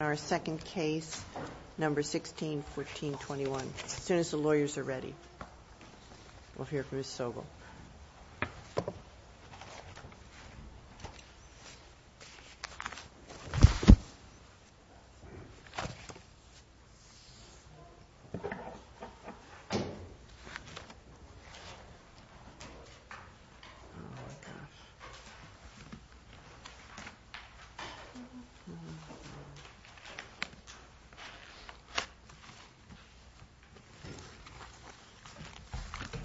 Our second case, number 16-1421. As soon as the lawyers are ready, we'll hear from Ms. Sobel.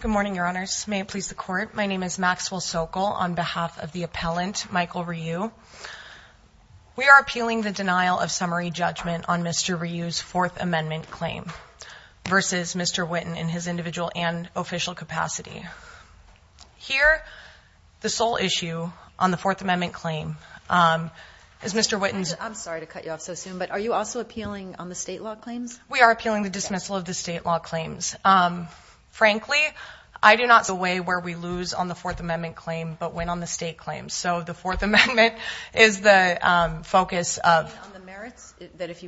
Good morning, Your Honors. May it please the Court, my name is Maxwell Sokol on behalf of the appellant, Michael Ryu. We are appealing the denial of summary judgment on Mr. Ryu's Fourth Amendment claim versus Mr. Whitten in his individual and official capacity. Here, the sole issue on the Fourth Amendment claim is Mr. Whitten's... I'm sorry to cut you off so soon, but are you also appealing on the state law claims? We are appealing the dismissal of the state law claims. Frankly, I do not see a way where we lose on the Fourth Amendment claim but win on the state claims. So the Fourth Amendment is the focus of... On the merits?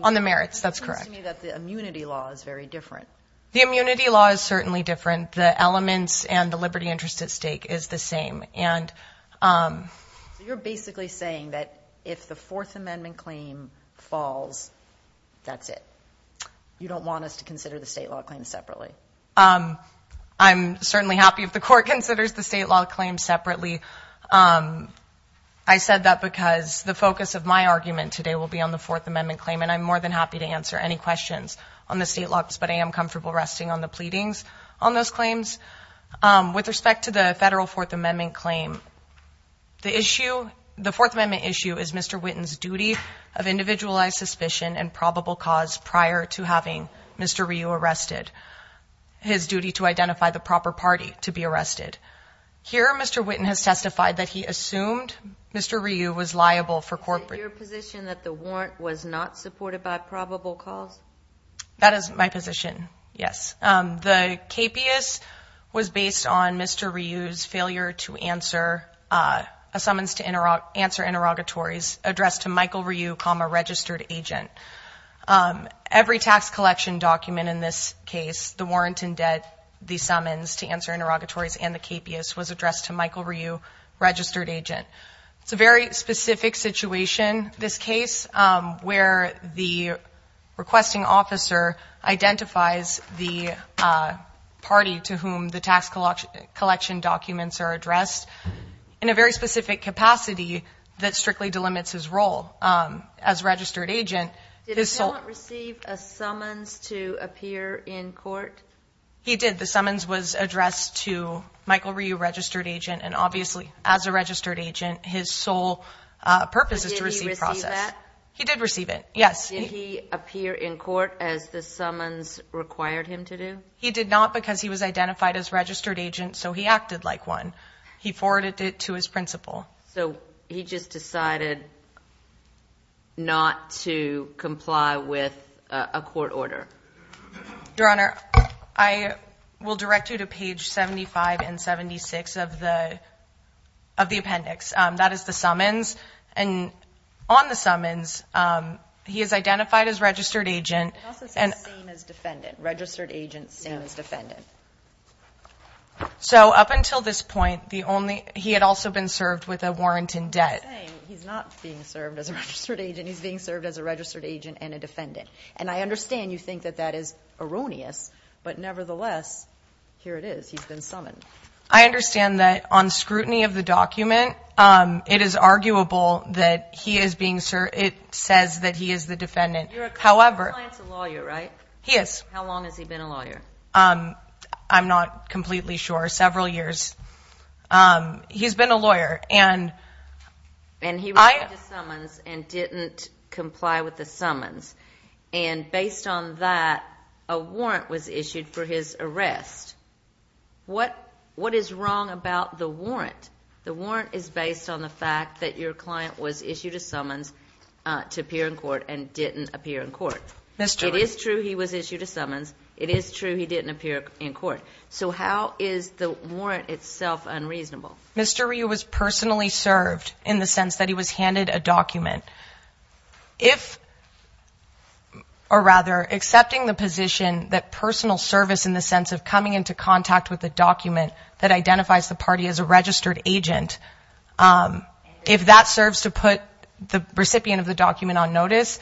On the merits, that's correct. It seems to me that the immunity law is very different. The immunity law is certainly different. The elements and the liberty interest at stake is the same. You're basically saying that if the Fourth Amendment claim falls, that's it? You don't want us to consider the state law claims separately? I'm certainly happy if the Court considers the state law claims separately. I said that because the focus of my argument today will be on the Fourth Amendment claim and I'm more than happy to answer any questions on the state laws, but I am comfortable resting on the pleadings on those claims. With respect to the federal Fourth Amendment claim, the issue... The Fourth Amendment issue is Mr. Whitten's duty of individualized suspicion and probable cause prior to having Mr. Ryu arrested. His duty to identify the proper party to be arrested. Here, Mr. Whitten has testified that he assumed Mr. Ryu was liable for corporate... Is it your position that the warrant was not supported by probable cause? That is my position, yes. The capias was based on Mr. Ryu's failure to answer a summons to answer interrogatories addressed to Michael Ryu, comma, registered agent. Every tax collection document in this case, the warrant in debt, the summons to answer interrogatories, and the capias was addressed to Michael Ryu, registered agent. It's a very specific situation, this case, where the requesting officer identifies the party to whom the tax collection documents are addressed in a very specific capacity that strictly delimits his role. As registered agent, his sole... Did the defendant receive a summons to appear in court? He did. The summons was addressed to Michael Ryu, registered agent, and obviously, as a registered agent, his sole purpose is to receive process. Did he receive that? He did receive it, yes. Did he appear in court as the summons required him to do? He did not because he was identified as registered agent, so he acted like one. He forwarded it to his principal. So he just decided not to comply with a court order? Your Honor, I will direct you to page 75 and 76 of the appendix. That is the summons, and on the summons, he is identified as registered agent. He also says same as defendant, registered agent, same as defendant. So up until this point, he had also been served with a warrant in debt. He's saying he's not being served as a registered agent. He's being served as a registered agent and a defendant, and I understand you think that that is erroneous, but nevertheless, here it is. He's been summoned. I understand that on scrutiny of the document, it is arguable that he is being served. It says that he is the defendant. Your client's a lawyer, right? He is. How long has he been a lawyer? I'm not completely sure. Several years. He's been a lawyer. And he received a summons and didn't comply with the summons, and based on that, a warrant was issued for his arrest. What is wrong about the warrant? The warrant is based on the fact that your client was issued a summons to appear in court and didn't appear in court. It is true he was issued a summons. It is true he didn't appear in court. So how is the warrant itself unreasonable? Mr. Ryu was personally served in the sense that he was handed a document. If, or rather, accepting the position that personal service in the sense of coming into contact with a document that identifies the party as a registered agent, if that serves to put the recipient of the document on notice,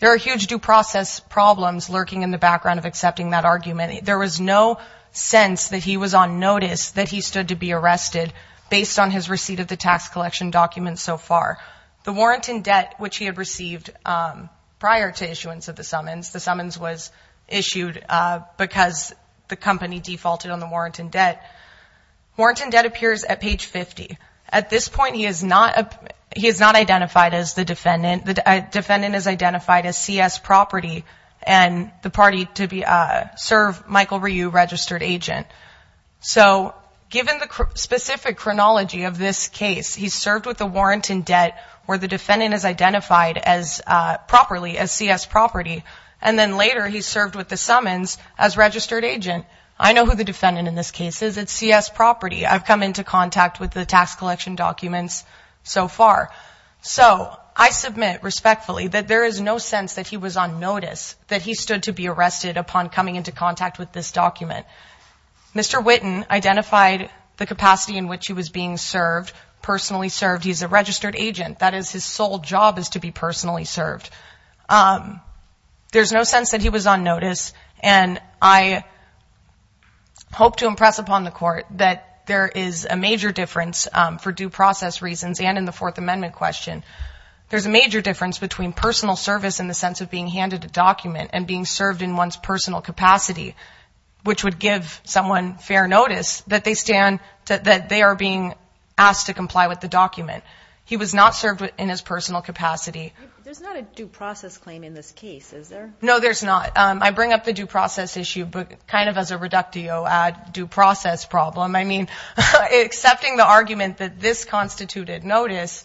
there are huge due process problems lurking in the background of accepting that argument. There was no sense that he was on notice that he stood to be arrested based on his receipt of the tax collection document so far. The warrant in debt, which he had received prior to issuance of the summons, the summons was issued because the company defaulted on the warrant in debt. Warrant in debt appears at page 50. At this point, he is not identified as the defendant. The defendant is identified as C.S. Property and the party to serve Michael Ryu, registered agent. So given the specific chronology of this case, he served with the warrant in debt where the defendant is identified properly as C.S. Property, and then later he served with the summons as registered agent. I know who the defendant in this case is. It's C.S. Property. I've come into contact with the tax collection documents so far. So I submit respectfully that there is no sense that he was on notice that he stood to be arrested upon coming into contact with this document. Mr. Witten identified the capacity in which he was being served, personally served. He's a registered agent. That is his sole job is to be personally served. There's no sense that he was on notice, and I hope to impress upon the court that there is a major difference for due process reasons and in the Fourth Amendment question. There's a major difference between personal service in the sense of being handed a document and being served in one's personal capacity, which would give someone fair notice that they stand, that they are being asked to comply with the document. He was not served in his personal capacity. There's not a due process claim in this case, is there? No, there's not. I bring up the due process issue kind of as a reductio ad due process problem. I mean, accepting the argument that this constituted notice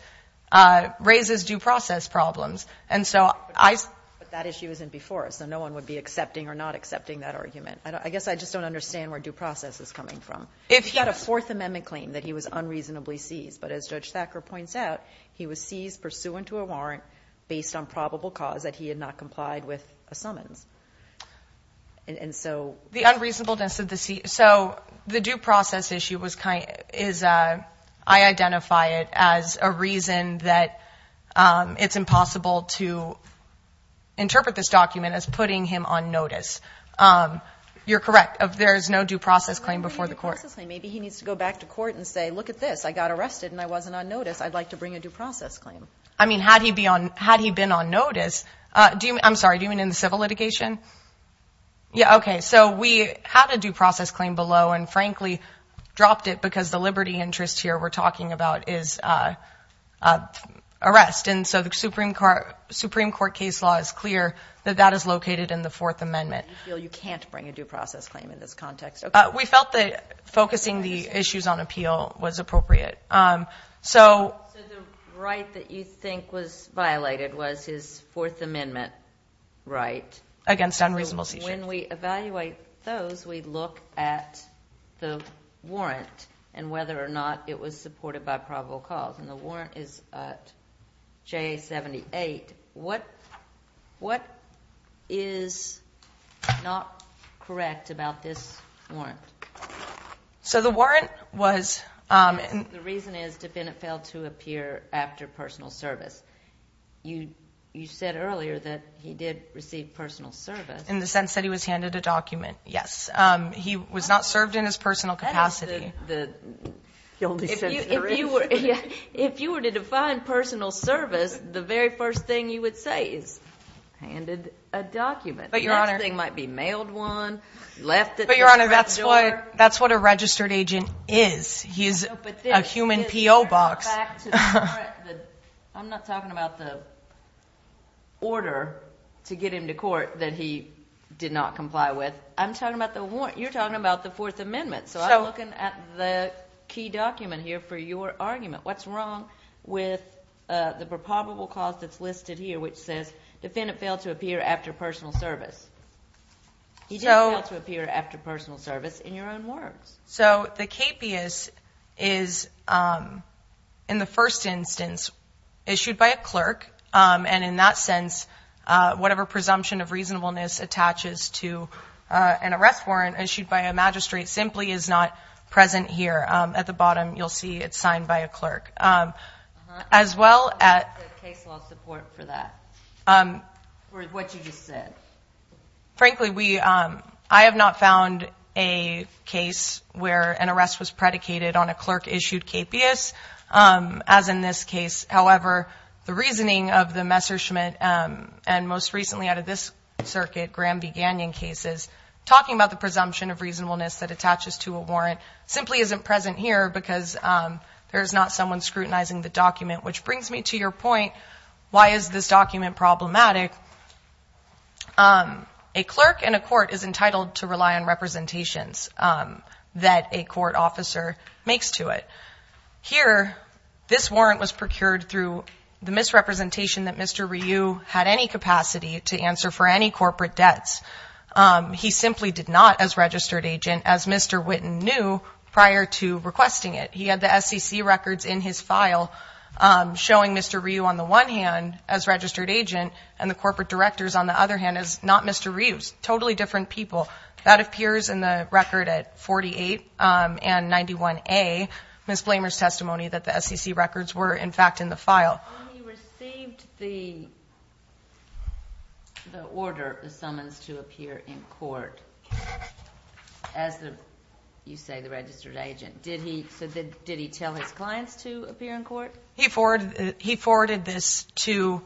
raises due process problems. But that issue isn't before us, so no one would be accepting or not accepting that argument. I guess I just don't understand where due process is coming from. If he had a Fourth Amendment claim that he was unreasonably seized, but as Judge Thacker points out, he was seized pursuant to a warrant based on probable cause that he had not complied with a summons. The unreasonableness of the seize. So the due process issue is I identify it as a reason that it's impossible to interpret this document as putting him on notice. You're correct. There is no due process claim before the court. Maybe he needs to go back to court and say, look at this. I got arrested and I wasn't on notice. I'd like to bring a due process claim. I mean, had he been on notice. I'm sorry. Do you mean in the civil litigation? Yeah, okay. So we had a due process claim below and, frankly, dropped it because the liberty interest here we're talking about is arrest. And so the Supreme Court case law is clear that that is located in the Fourth Amendment. You feel you can't bring a due process claim in this context. We felt that focusing the issues on appeal was appropriate. So the right that you think was violated was his Fourth Amendment right. Against unreasonable seizure. When we evaluate those, we look at the warrant and whether or not it was supported by probable cause. And the warrant is J78. What is not correct about this warrant? So the warrant was. The reason is defendant failed to appear after personal service. You said earlier that he did receive personal service. In the sense that he was handed a document. Yes. He was not served in his personal capacity. If you were to define personal service, the very first thing you would say is handed a document. The next thing might be mailed one, left at the door. But, Your Honor, that's what a registered agent is. He's a human PO box. I'm not talking about the order to get him to court that he did not comply with. I'm talking about the warrant. You're talking about the Fourth Amendment. So I'm looking at the key document here for your argument. What's wrong with the probable cause that's listed here, which says defendant failed to appear after personal service? He did fail to appear after personal service in your own words. So the KPIS is in the first instance issued by a clerk. And in that sense, whatever presumption of reasonableness attaches to an arrest warrant issued by a magistrate simply is not present here. At the bottom, you'll see it's signed by a clerk. As well as case law support for that, for what you just said. Frankly, I have not found a case where an arrest was predicated on a clerk-issued KPIS, as in this case. However, the reasoning of the Messerschmitt and most recently out of this circuit, talking about the presumption of reasonableness that attaches to a warrant simply isn't present here because there is not someone scrutinizing the document. Which brings me to your point, why is this document problematic? A clerk in a court is entitled to rely on representations that a court officer makes to it. Here, this warrant was procured through the misrepresentation that Mr. Ryu had any capacity to answer for any corporate debts. He simply did not, as registered agent, as Mr. Witten knew prior to requesting it. He had the SEC records in his file showing Mr. Ryu on the one hand as registered agent and the corporate directors on the other hand as not Mr. Ryu's. Totally different people. That appears in the record at 48 and 91A, Ms. Blamer's testimony, that the SEC records were in fact in the file. When he received the order, the summons to appear in court, as you say the registered agent, did he tell his clients to appear in court? He forwarded this to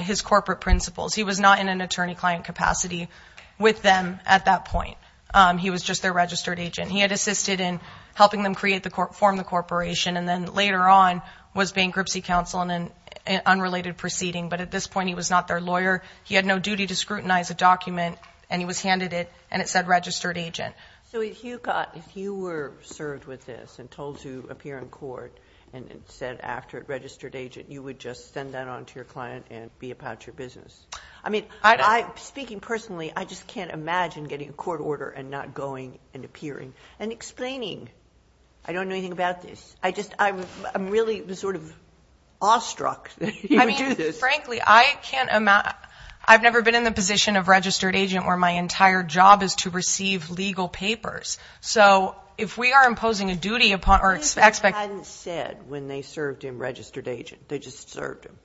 his corporate principals. He was not in an attorney-client capacity with them at that point. He was just their registered agent. He had assisted in helping them form the corporation and then later on was bankruptcy counsel in an unrelated proceeding, but at this point he was not their lawyer. He had no duty to scrutinize a document and he was handed it and it said registered agent. So if you were served with this and told to appear in court and it said after registered agent, you would just send that on to your client and be about your business. Speaking personally, I just can't imagine getting a court order and not going and appearing and explaining. I don't know anything about this. I'm really sort of awestruck that he would do this. Frankly, I've never been in the position of registered agent where my entire job is to receive legal papers. So if we are imposing a duty upon or expect. I think they hadn't said when they served him registered agent. They just served him.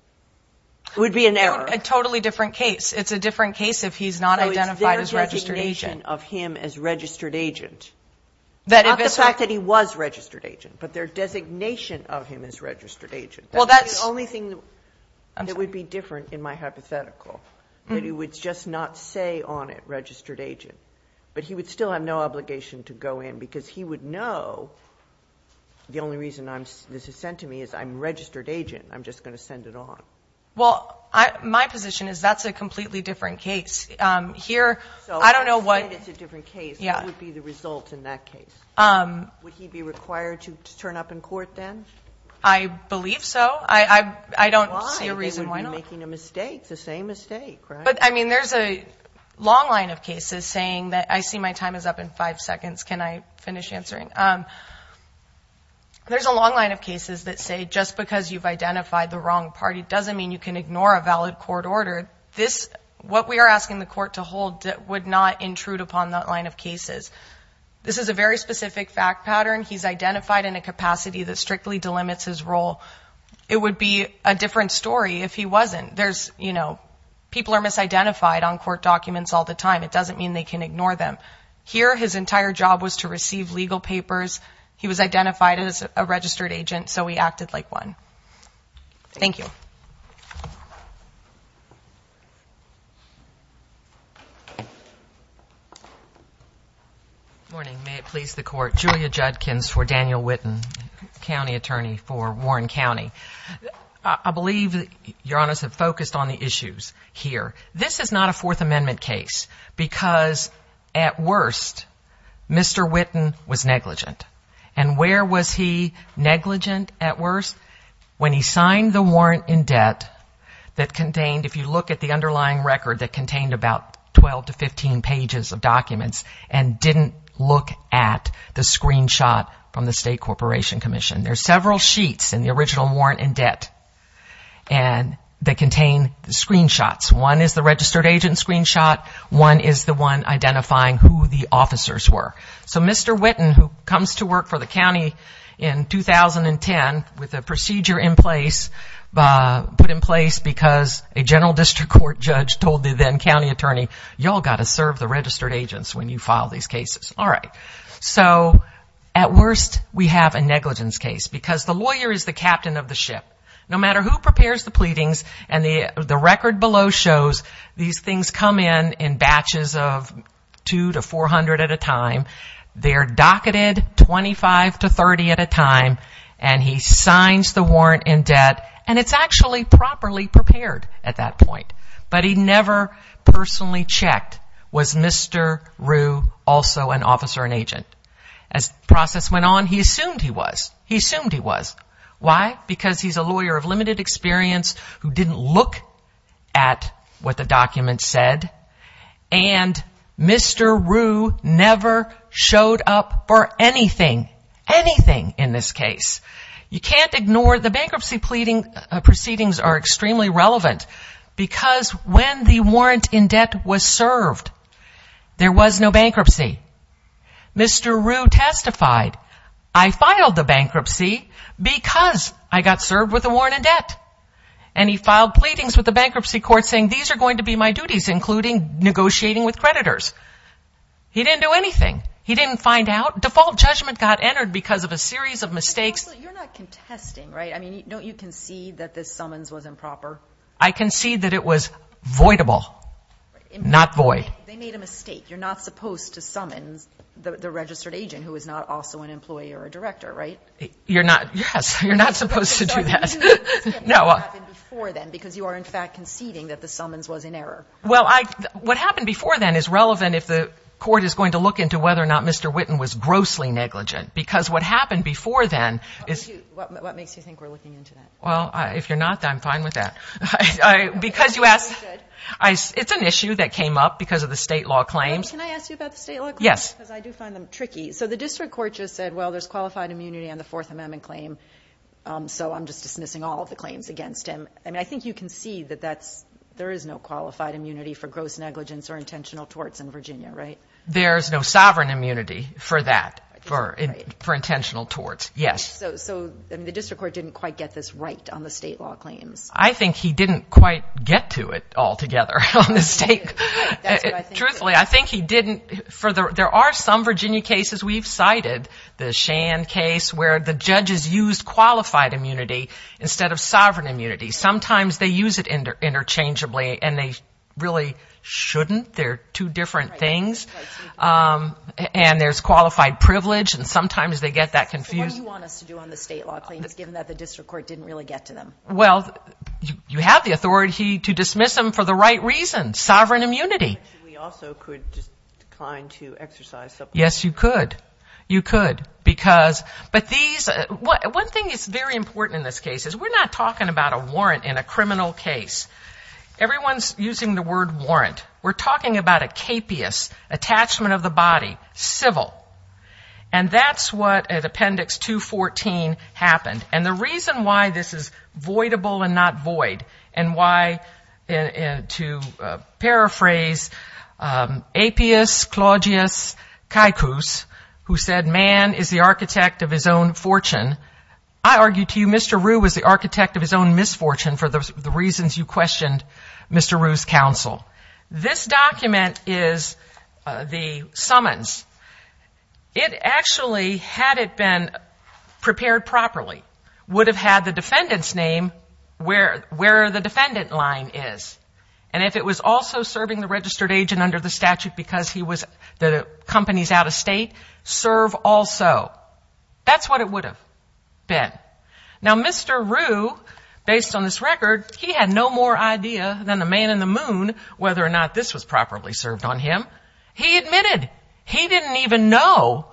It would be an error. A totally different case. It's a different case if he's not identified as registered agent. No, it's their designation of him as registered agent. Not the fact that he was registered agent, but their designation of him as registered agent. That's the only thing that would be different in my hypothetical, that he would just not say on it registered agent, but he would still have no obligation to go in because he would know the only reason this is sent to me is I'm registered agent. I'm just going to send it on. Well, my position is that's a completely different case. Here, I don't know what. It's a different case. What would be the result in that case? Would he be required to turn up in court then? I believe so. I don't see a reason why not. He would be making a mistake. The same mistake, right? But, I mean, there's a long line of cases saying that I see my time is up in five seconds. Can I finish answering? There's a long line of cases that say just because you've identified the wrong party doesn't mean you can ignore a valid court order. What we are asking the court to hold would not intrude upon that line of cases. This is a very specific fact pattern. He's identified in a capacity that strictly delimits his role. It would be a different story if he wasn't. People are misidentified on court documents all the time. It doesn't mean they can ignore them. Here, his entire job was to receive legal papers. He was identified as a registered agent, so he acted like one. Thank you. Good morning. May it please the Court. Julia Judkins for Daniel Witten, county attorney for Warren County. I believe, Your Honor, I have focused on the issues here. This is not a Fourth Amendment case because, at worst, Mr. Witten was negligent. And where was he negligent at worst? When he signed the warrant in debt that contained, if you look at the underlying record that contained about 12 to 15 pages of documents and didn't look at the screenshot from the State Corporation Commission. There are several sheets in the original warrant in debt that contain the screenshots. One is the registered agent screenshot. One is the one identifying who the officers were. So Mr. Witten, who comes to work for the county in 2010 with a procedure in place, put in place because a general district court judge told the then county attorney, you all got to serve the registered agents when you file these cases. All right. So, at worst, we have a negligence case because the lawyer is the captain of the ship. No matter who prepares the pleadings, and the record below shows these things come in in batches of 2 to 400 at a time. They're docketed 25 to 30 at a time. And he signs the warrant in debt. And it's actually properly prepared at that point. But he never personally checked, was Mr. Rue also an officer, an agent? As the process went on, he assumed he was. He assumed he was. Why? Because he's a lawyer of limited experience who didn't look at what the document said. And Mr. Rue never showed up for anything, anything in this case. You can't ignore the bankruptcy proceedings are extremely relevant because when the warrant in debt was served, there was no bankruptcy. Mr. Rue testified, I filed the bankruptcy because I got served with a warrant in debt. And he filed pleadings with the bankruptcy court saying these are going to be my duties, including negotiating with creditors. He didn't do anything. He didn't find out. Default judgment got entered because of a series of mistakes. You're not contesting, right? I mean, don't you concede that this summons was improper? I concede that it was voidable, not void. They made a mistake. You're not supposed to summons the registered agent who is not also an employee or a director, right? You're not. Yes. You're not supposed to do that. No. Because you are, in fact, conceding that the summons was in error. Well, what happened before then is relevant if the court is going to look into whether or not Mr. Witten was grossly negligent. Because what happened before then is. What makes you think we're looking into that? Well, if you're not, I'm fine with that. Because you asked. It's an issue that came up because of the state law claims. Can I ask you about the state law claims? Yes. Because I do find them tricky. So the district court just said, well, there's qualified immunity on the Fourth Amendment claim, so I'm just dismissing all of the claims against him. I mean, I think you can see that there is no qualified immunity for gross negligence or intentional torts in Virginia, right? There's no sovereign immunity for that, for intentional torts. Yes. So the district court didn't quite get this right on the state law claims. I think he didn't quite get to it altogether on the state. That's what I think. Truthfully, I think he didn't. There are some Virginia cases we've cited, the Shan case, where the judges used qualified immunity instead of sovereign immunity. Sometimes they use it interchangeably, and they really shouldn't. They're two different things. And there's qualified privilege, and sometimes they get that confused. What do you want us to do on the state law claims, given that the district court didn't really get to them? Well, you have the authority to dismiss them for the right reasons, sovereign immunity. We also could just decline to exercise subpoena. Yes, you could. You could. But one thing that's very important in this case is we're not talking about a warrant in a criminal case. Everyone's using the word warrant. We're talking about a capious attachment of the body, civil. And that's what, at Appendix 214, happened. And the reason why this is voidable and not void, and why, to paraphrase, Apius Claudius Caicus, who said, man is the architect of his own fortune, I argue to you Mr. Rue was the architect of his own misfortune for the reasons you questioned Mr. Rue's counsel. This document is the summons. It actually, had it been prepared properly, would have had the defendant's name where the defendant line is. And if it was also serving the registered agent under the statute because he was the company's out-of-state, serve also. That's what it would have been. Now, Mr. Rue, based on this record, he had no more idea than the man in the moon whether or not this was properly served on him. He admitted. He didn't even know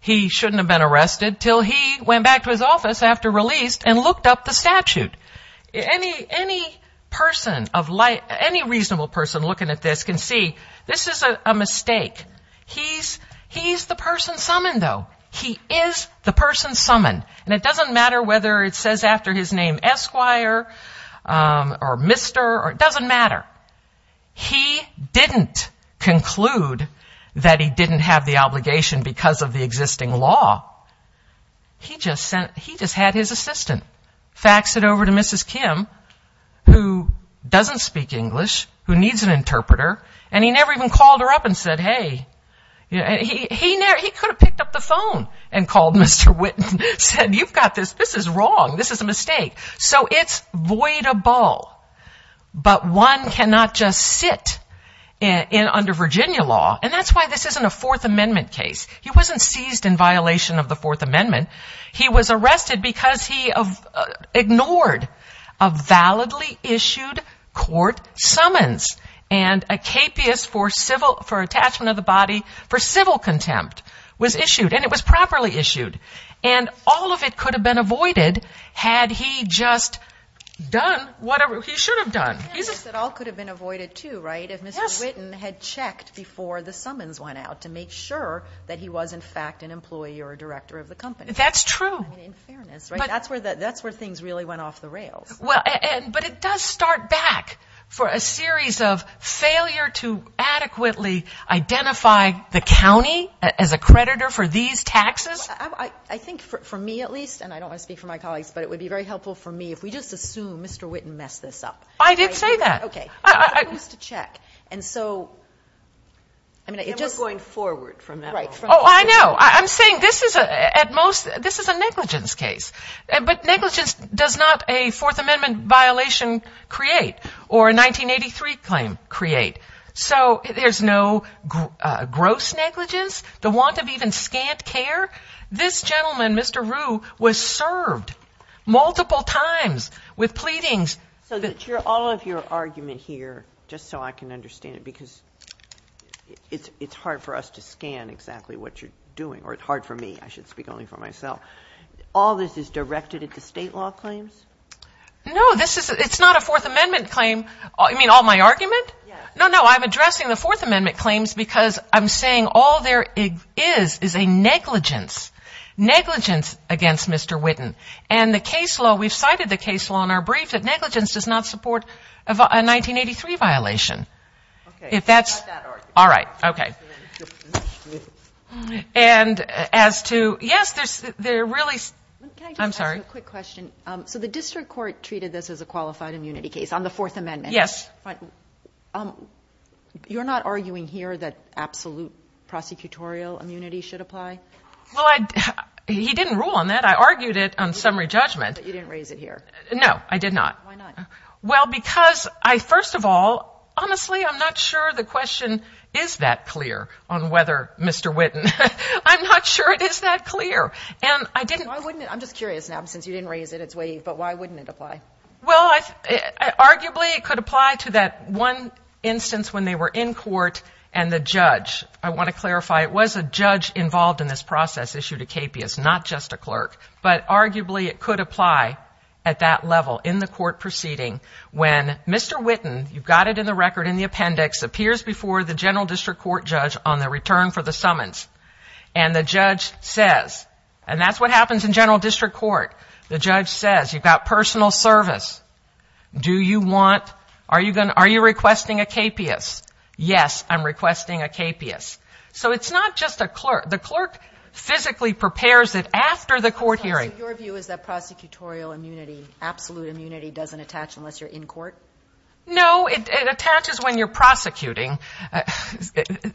he shouldn't have been arrested until he went back to his office after release and looked up the statute. Any person of light, any reasonable person looking at this can see this is a mistake. He's the person summoned, though. He is the person summoned. And it doesn't matter whether it says after his name, Esquire, or Mr. It doesn't matter. He didn't conclude that he didn't have the obligation because of the existing law. He just had his assistant fax it over to Mrs. Kim, who doesn't speak English, who needs an interpreter, and he never even called her up and said, hey. He could have picked up the phone and called Mr. Witten and said, you've got this. This is wrong. This is a mistake. So it's void of ball. But one cannot just sit under Virginia law. And that's why this isn't a Fourth Amendment case. He wasn't seized in violation of the Fourth Amendment. He was arrested because he ignored a validly issued court summons. And a capeus for attachment of the body for civil contempt was issued. And it was properly issued. And all of it could have been avoided had he just done whatever he should have done. It all could have been avoided, too, right, if Mr. Witten had checked before the summons went out to make sure that he was, in fact, an employee or a director of the company. That's true. I mean, in fairness, right, that's where things really went off the rails. But it does start back for a series of failure to adequately identify the county as a creditor for these taxes. I think, for me at least, and I don't want to speak for my colleagues, but it would be very helpful for me if we just assume Mr. Witten messed this up. I did say that. Okay. He was supposed to check. And we're going forward from that. Oh, I know. I'm saying this is a negligence case. But negligence does not a Fourth Amendment violation create or a 1983 claim create. So there's no gross negligence, the want of even scant care. This gentleman, Mr. Rue, was served multiple times with pleadings. So all of your argument here, just so I can understand it, because it's hard for us to scan exactly what you're doing, or it's hard for me. I should speak only for myself. All this is directed at the state law claims? No. It's not a Fourth Amendment claim. You mean all my argument? Yeah. No, no. I'm addressing the Fourth Amendment claims because I'm saying all there is is a negligence, negligence against Mr. Witten. And the case law, we've cited the case law in our brief that negligence does not support a 1983 violation. Okay. It's not that argument. All right. Okay. And as to, yes, there really is. Can I just ask a quick question? So the district court treated this as a qualified immunity case on the Fourth Amendment. Yes. But you're not arguing here that absolute prosecutorial immunity should apply? Well, he didn't rule on that. Yes, I argued it on summary judgment. But you didn't raise it here. No, I did not. Why not? Well, because I, first of all, honestly, I'm not sure the question is that clear on whether Mr. Witten. I'm not sure it is that clear. And I didn't. Why wouldn't it? I'm just curious now, since you didn't raise it. It's waived. But why wouldn't it apply? Well, arguably, it could apply to that one instance when they were in court and the judge. I want to clarify, it was a judge involved in this process issued a KPIS, not just a clerk. But arguably, it could apply at that level in the court proceeding when Mr. Witten, you've got it in the record, in the appendix, appears before the general district court judge on the return for the summons. And the judge says, and that's what happens in general district court. The judge says, you've got personal service. Do you want, are you requesting a KPIS? Yes, I'm requesting a KPIS. So it's not just a clerk. The clerk physically prepares it after the court hearing. So your view is that prosecutorial immunity, absolute immunity, doesn't attach unless you're in court? No, it attaches when you're prosecuting. It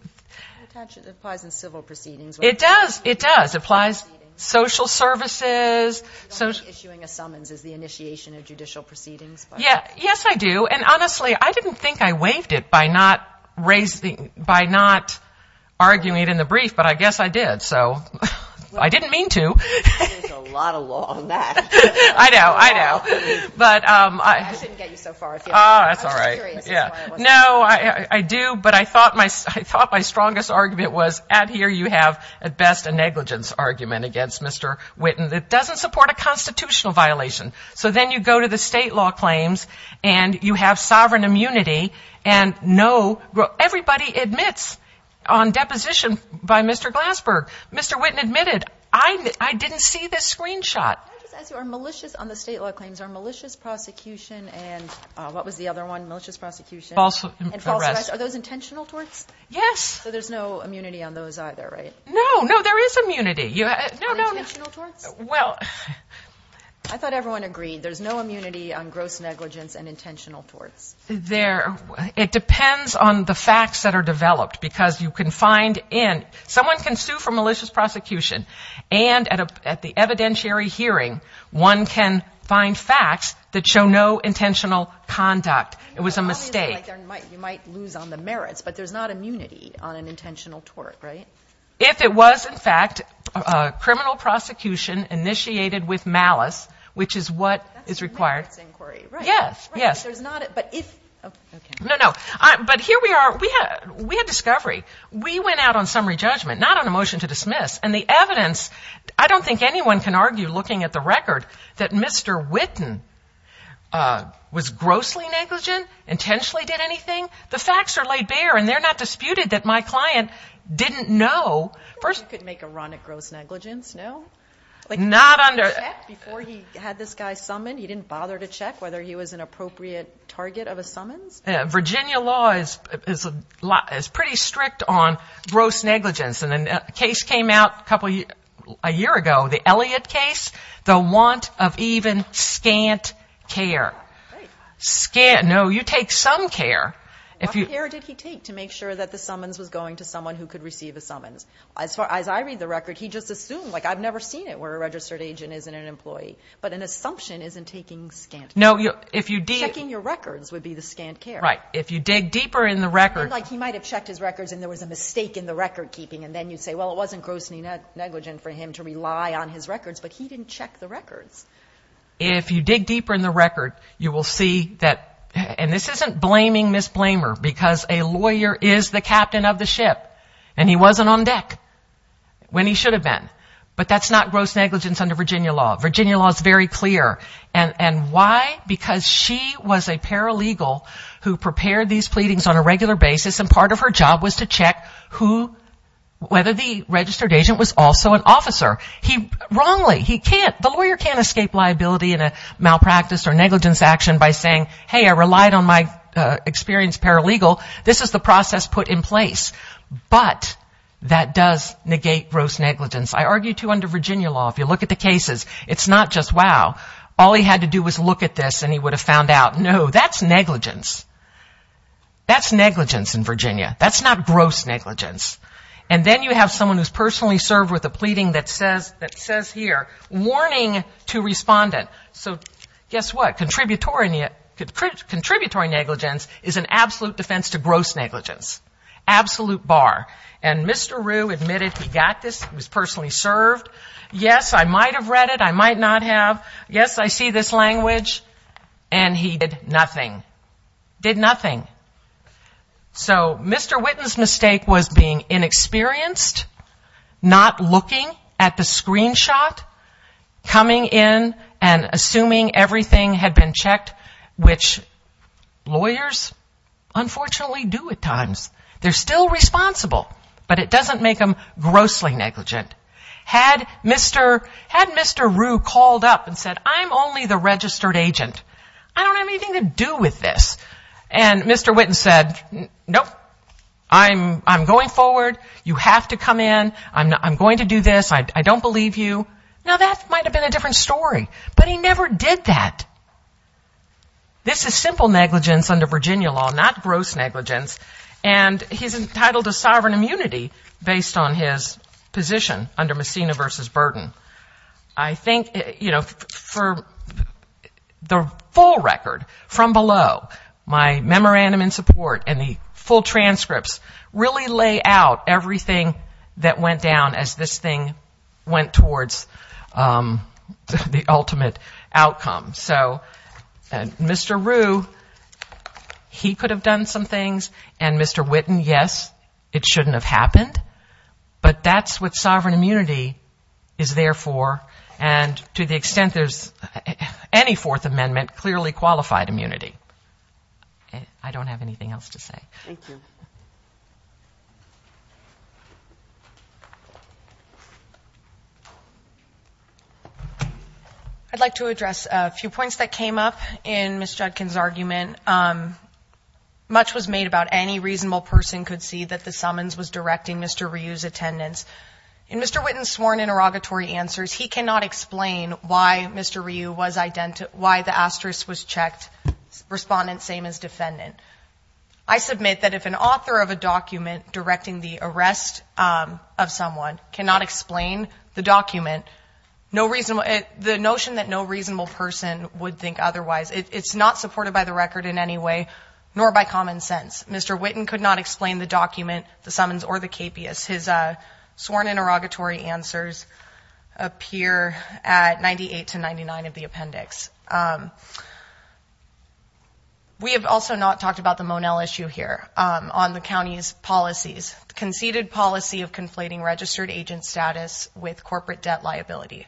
applies in civil proceedings. It does. It does. It applies social services. You don't need issuing a summons as the initiation of judicial proceedings. Yes, I do. And honestly, I didn't think I waived it by not arguing it in the brief, but I guess I did. So I didn't mean to. There's a lot of law on that. I know. I know. I shouldn't get you so far. That's all right. I'm just curious. No, I do, but I thought my strongest argument was at here you have at best a negligence argument against Mr. Witten that doesn't support a constitutional violation. So then you go to the state law claims and you have sovereign immunity and no, everybody admits on deposition by Mr. Glasberg, Mr. Witten admitted, I didn't see this screenshot. Can I just ask you, are malicious on the state law claims, are malicious prosecution and what was the other one, malicious prosecution? False arrest. Are those intentional torts? Yes. So there's no immunity on those either, right? No, no, no. Are they intentional torts? I thought everyone agreed there's no immunity on gross negligence and intentional torts. It depends on the facts that are developed because you can find in, someone can sue for malicious prosecution and at the evidentiary hearing, one can find facts that show no intentional conduct. It was a mistake. You might lose on the merits, but there's not immunity on an intentional tort, right? If it was in fact a criminal prosecution initiated with malice, which is what is required. That's a merits inquiry, right? Yes, yes. There's not, but if, okay. No, no. But here we are, we had discovery. We went out on summary judgment, not on a motion to dismiss. And the evidence, I don't think anyone can argue looking at the record that Mr. Witten was grossly negligent, intentionally did anything. The facts are laid bare and they're not disputed that my client didn't know. You could make a run at gross negligence, no? Not under. Before he had this guy summoned, he didn't bother to check whether he was an appropriate target of a summons? Virginia law is pretty strict on gross negligence. And a case came out a year ago, the Elliott case, the want of even scant care. Great. Scant. No, you take some care. What care did he take to make sure that the summons was going to someone who could receive a summons? As far as I read the record, he just assumed, like I've never seen it where a registered agent isn't an employee. But an assumption isn't taking scant care. No, if you did. Checking your records would be the scant care. Right. If you dig deeper in the record. Like he might have checked his records and there was a mistake in the record keeping. And then you say, well, it wasn't gross negligence for him to rely on his records, but he didn't check the records. If you dig deeper in the record, you will see that, and this isn't blaming Ms. Blamer, because a lawyer is the captain of the ship. And he wasn't on deck when he should have been. But that's not gross negligence under Virginia law. Virginia law is very clear. And why? Because she was a paralegal who prepared these pleadings on a regular basis, and part of her job was to check whether the registered agent was also an officer. Wrongly, he can't. The lawyer can't escape liability in a malpractice or negligence action by saying, hey, I relied on my experience paralegal. This is the process put in place. But that does negate gross negligence. I argue, too, under Virginia law, if you look at the cases, it's not just, wow, all he had to do was look at this and he would have found out, no, that's negligence. That's negligence in Virginia. That's not gross negligence. And then you have someone who's personally served with a pleading that says here, warning to respondent. So guess what? Contributory negligence is an absolute defense to gross negligence. Absolute bar. And Mr. Rue admitted he got this. He was personally served. Yes, I might have read it. I might not have. Yes, I see this language. And he did nothing. Did nothing. So Mr. Whitten's mistake was being inexperienced, not looking at the screenshot, coming in and assuming everything had been checked, which lawyers unfortunately do at times. They're still responsible. But it doesn't make them grossly negligent. Had Mr. Rue called up and said, I'm only the registered agent. I don't have anything to do with this. And Mr. Whitten said, nope. I'm going forward. You have to come in. I'm going to do this. I don't believe you. Now, that might have been a different story. But he never did that. This is simple negligence under Virginia law, not gross negligence. And he's entitled to sovereign immunity based on his position under Messina versus Burden. I think, you know, for the full record from below, my memorandum in support and the full transcripts really lay out everything that went down as this thing went towards the ultimate outcome. So Mr. Rue, he could have done some things. And Mr. Whitten, yes, it shouldn't have happened. But that's what sovereign immunity is there for. And to the extent there's any Fourth Amendment, clearly qualified immunity. I don't have anything else to say. Thank you. I'd like to address a few points that came up in Ms. Judkin's argument. Much was made about any reasonable person could see that the summons was directing Mr. Rue's attendance. In Mr. Whitten's sworn interrogatory answers, he cannot explain why Mr. Rue was identified, why the asterisk was checked, respondent same as defendant. I submit that if an author of a document directing the arrest of someone cannot explain the document, no reason, the notion that no reasonable person would think otherwise, it's not supported by the record in any way, nor by common sense. Mr. Whitten could not explain the document, the summons, or the KPS. His sworn interrogatory answers appear at 98 to 99 of the appendix. We have also not talked about the Monell issue here on the county's policies. Conceded policy of conflating registered agent status with corporate debt liability.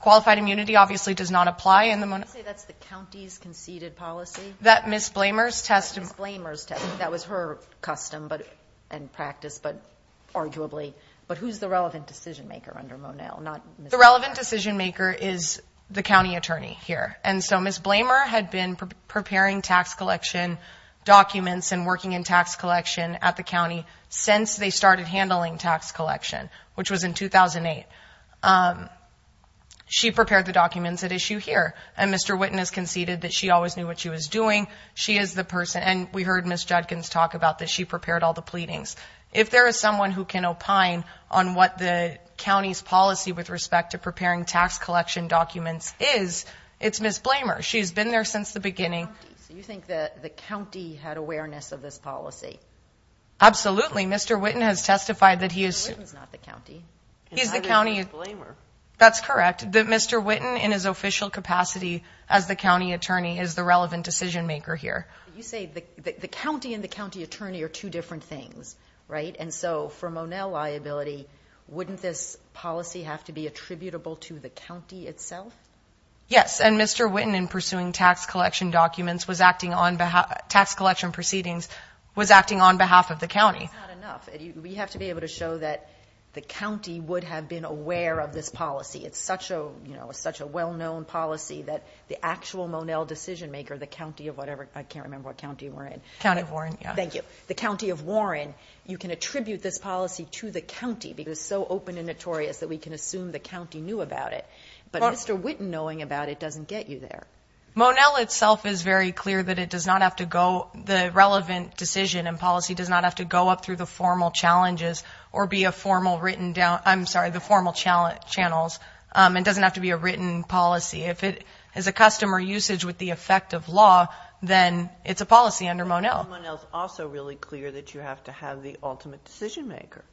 Qualified immunity obviously does not apply in the Monell. Can you say that's the county's conceded policy? That Ms. Blamer's testimony. Ms. Blamer's testimony, that was her custom and practice, but arguably. But who's the relevant decision maker under Monell? The relevant decision maker is the county attorney here. And so Ms. Blamer had been preparing tax collection documents and working in tax collection at the county since they started handling tax collection, which was in 2008. She prepared the documents at issue here. And Mr. Whitten has conceded that she always knew what she was doing. She is the person, and we heard Ms. Judkins talk about this, she prepared all the pleadings. If there is someone who can opine on what the county's policy with respect to preparing tax collection documents is, it's Ms. Blamer. She's been there since the beginning. So you think that the county had awareness of this policy? Absolutely. Mr. Whitten has testified that he is. Mr. Whitten's not the county. He's the county. That's correct, that Mr. Whitten in his official capacity as the county attorney is the relevant decision maker here. You say the county and the county attorney are two different things, right? And so for Monell liability, wouldn't this policy have to be attributable to the county itself? Yes, and Mr. Whitten in pursuing tax collection documents was acting on behalf, tax collection proceedings was acting on behalf of the county. That's not enough. We have to be able to show that the county would have been aware of this policy. It's such a well-known policy that the actual Monell decision maker, the county of whatever, I can't remember what county we're in. County of Warren. Thank you. So the county of Warren, you can attribute this policy to the county because it's so open and notorious that we can assume the county knew about it. But Mr. Whitten knowing about it doesn't get you there. Monell itself is very clear that it does not have to go, the relevant decision and policy does not have to go up through the formal challenges or be a formal written, I'm sorry, the formal channels. It doesn't have to be a written policy. If it is a custom or usage with the effect of law, then it's a policy under Monell. Monell is also really clear that you have to have the ultimate decision maker.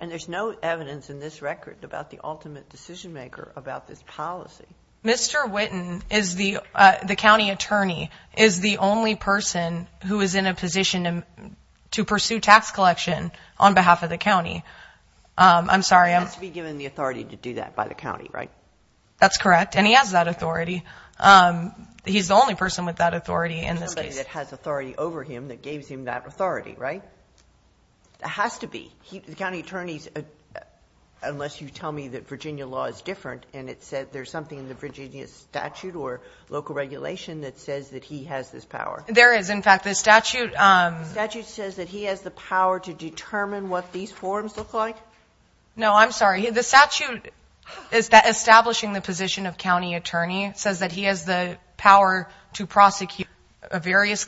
And there's no evidence in this record about the ultimate decision maker about this policy. Mr. Whitten, the county attorney, is the only person who is in a position to pursue tax collection on behalf of the county. I'm sorry. He has to be given the authority to do that by the county, right? That's correct. And he has that authority. He's the only person with that authority in this case. Somebody that has authority over him that gave him that authority, right? It has to be. The county attorneys, unless you tell me that Virginia law is different and it says there's something in the Virginia statute or local regulation that says that he has this power. There is. In fact, the statute says that he has the power to determine what these forms look like. No, I'm sorry. The statute is establishing the position of county attorney. It says that he has the power to prosecute various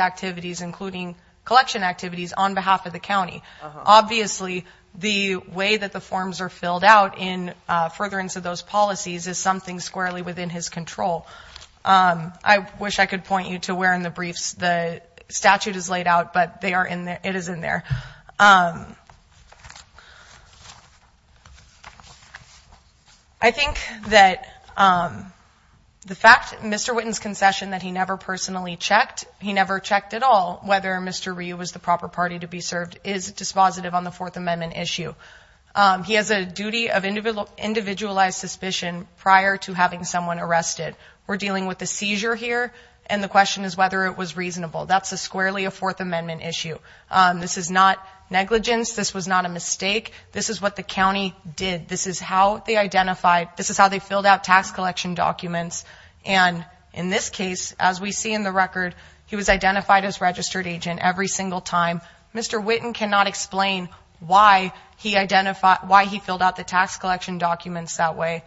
activities, including collection activities, on behalf of the county. Obviously, the way that the forms are filled out in furtherance of those policies is something squarely within his control. I wish I could point you to where in the briefs the statute is. The statute is laid out, but it is in there. I think that the fact that Mr. Witten's concession that he never personally checked, he never checked at all whether Mr. Ryu was the proper party to be served, is dispositive on the Fourth Amendment issue. He has a duty of individualized suspicion prior to having someone arrested. We're dealing with a seizure here, and the question is whether it was reasonable. That's squarely a Fourth Amendment issue. This is not negligence. This was not a mistake. This is what the county did. This is how they filled out tax collection documents. In this case, as we see in the record, he was identified as registered agent every single time. Mr. Witten cannot explain why he filled out the tax collection documents that way.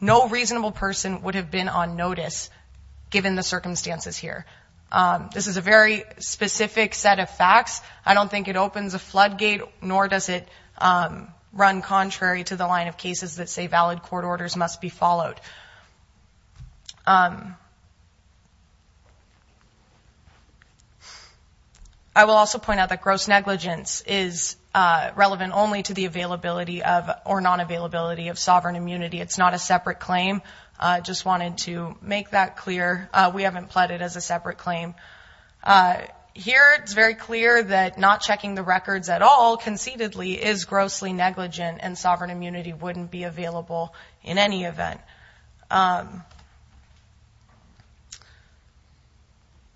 No reasonable person would have been on notice given the circumstances here. This is a very specific set of facts. I don't think it opens a floodgate, nor does it run contrary to the line of cases that say valid court orders must be followed. I will also point out that gross negligence is relevant only to the availability or non-availability of sovereign immunity. It's not a separate claim. I just wanted to make that clear. We haven't pledged it as a separate claim. Here, it's very clear that not checking the records at all, conceitedly, is grossly negligent, and sovereign immunity wouldn't be available in any event.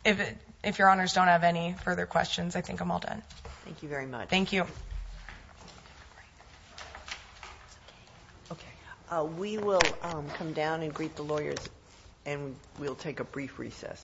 If your honors don't have any further questions, I think I'm all done. Thank you very much. Thank you. We will come down and greet the lawyers, and we'll take a brief recess.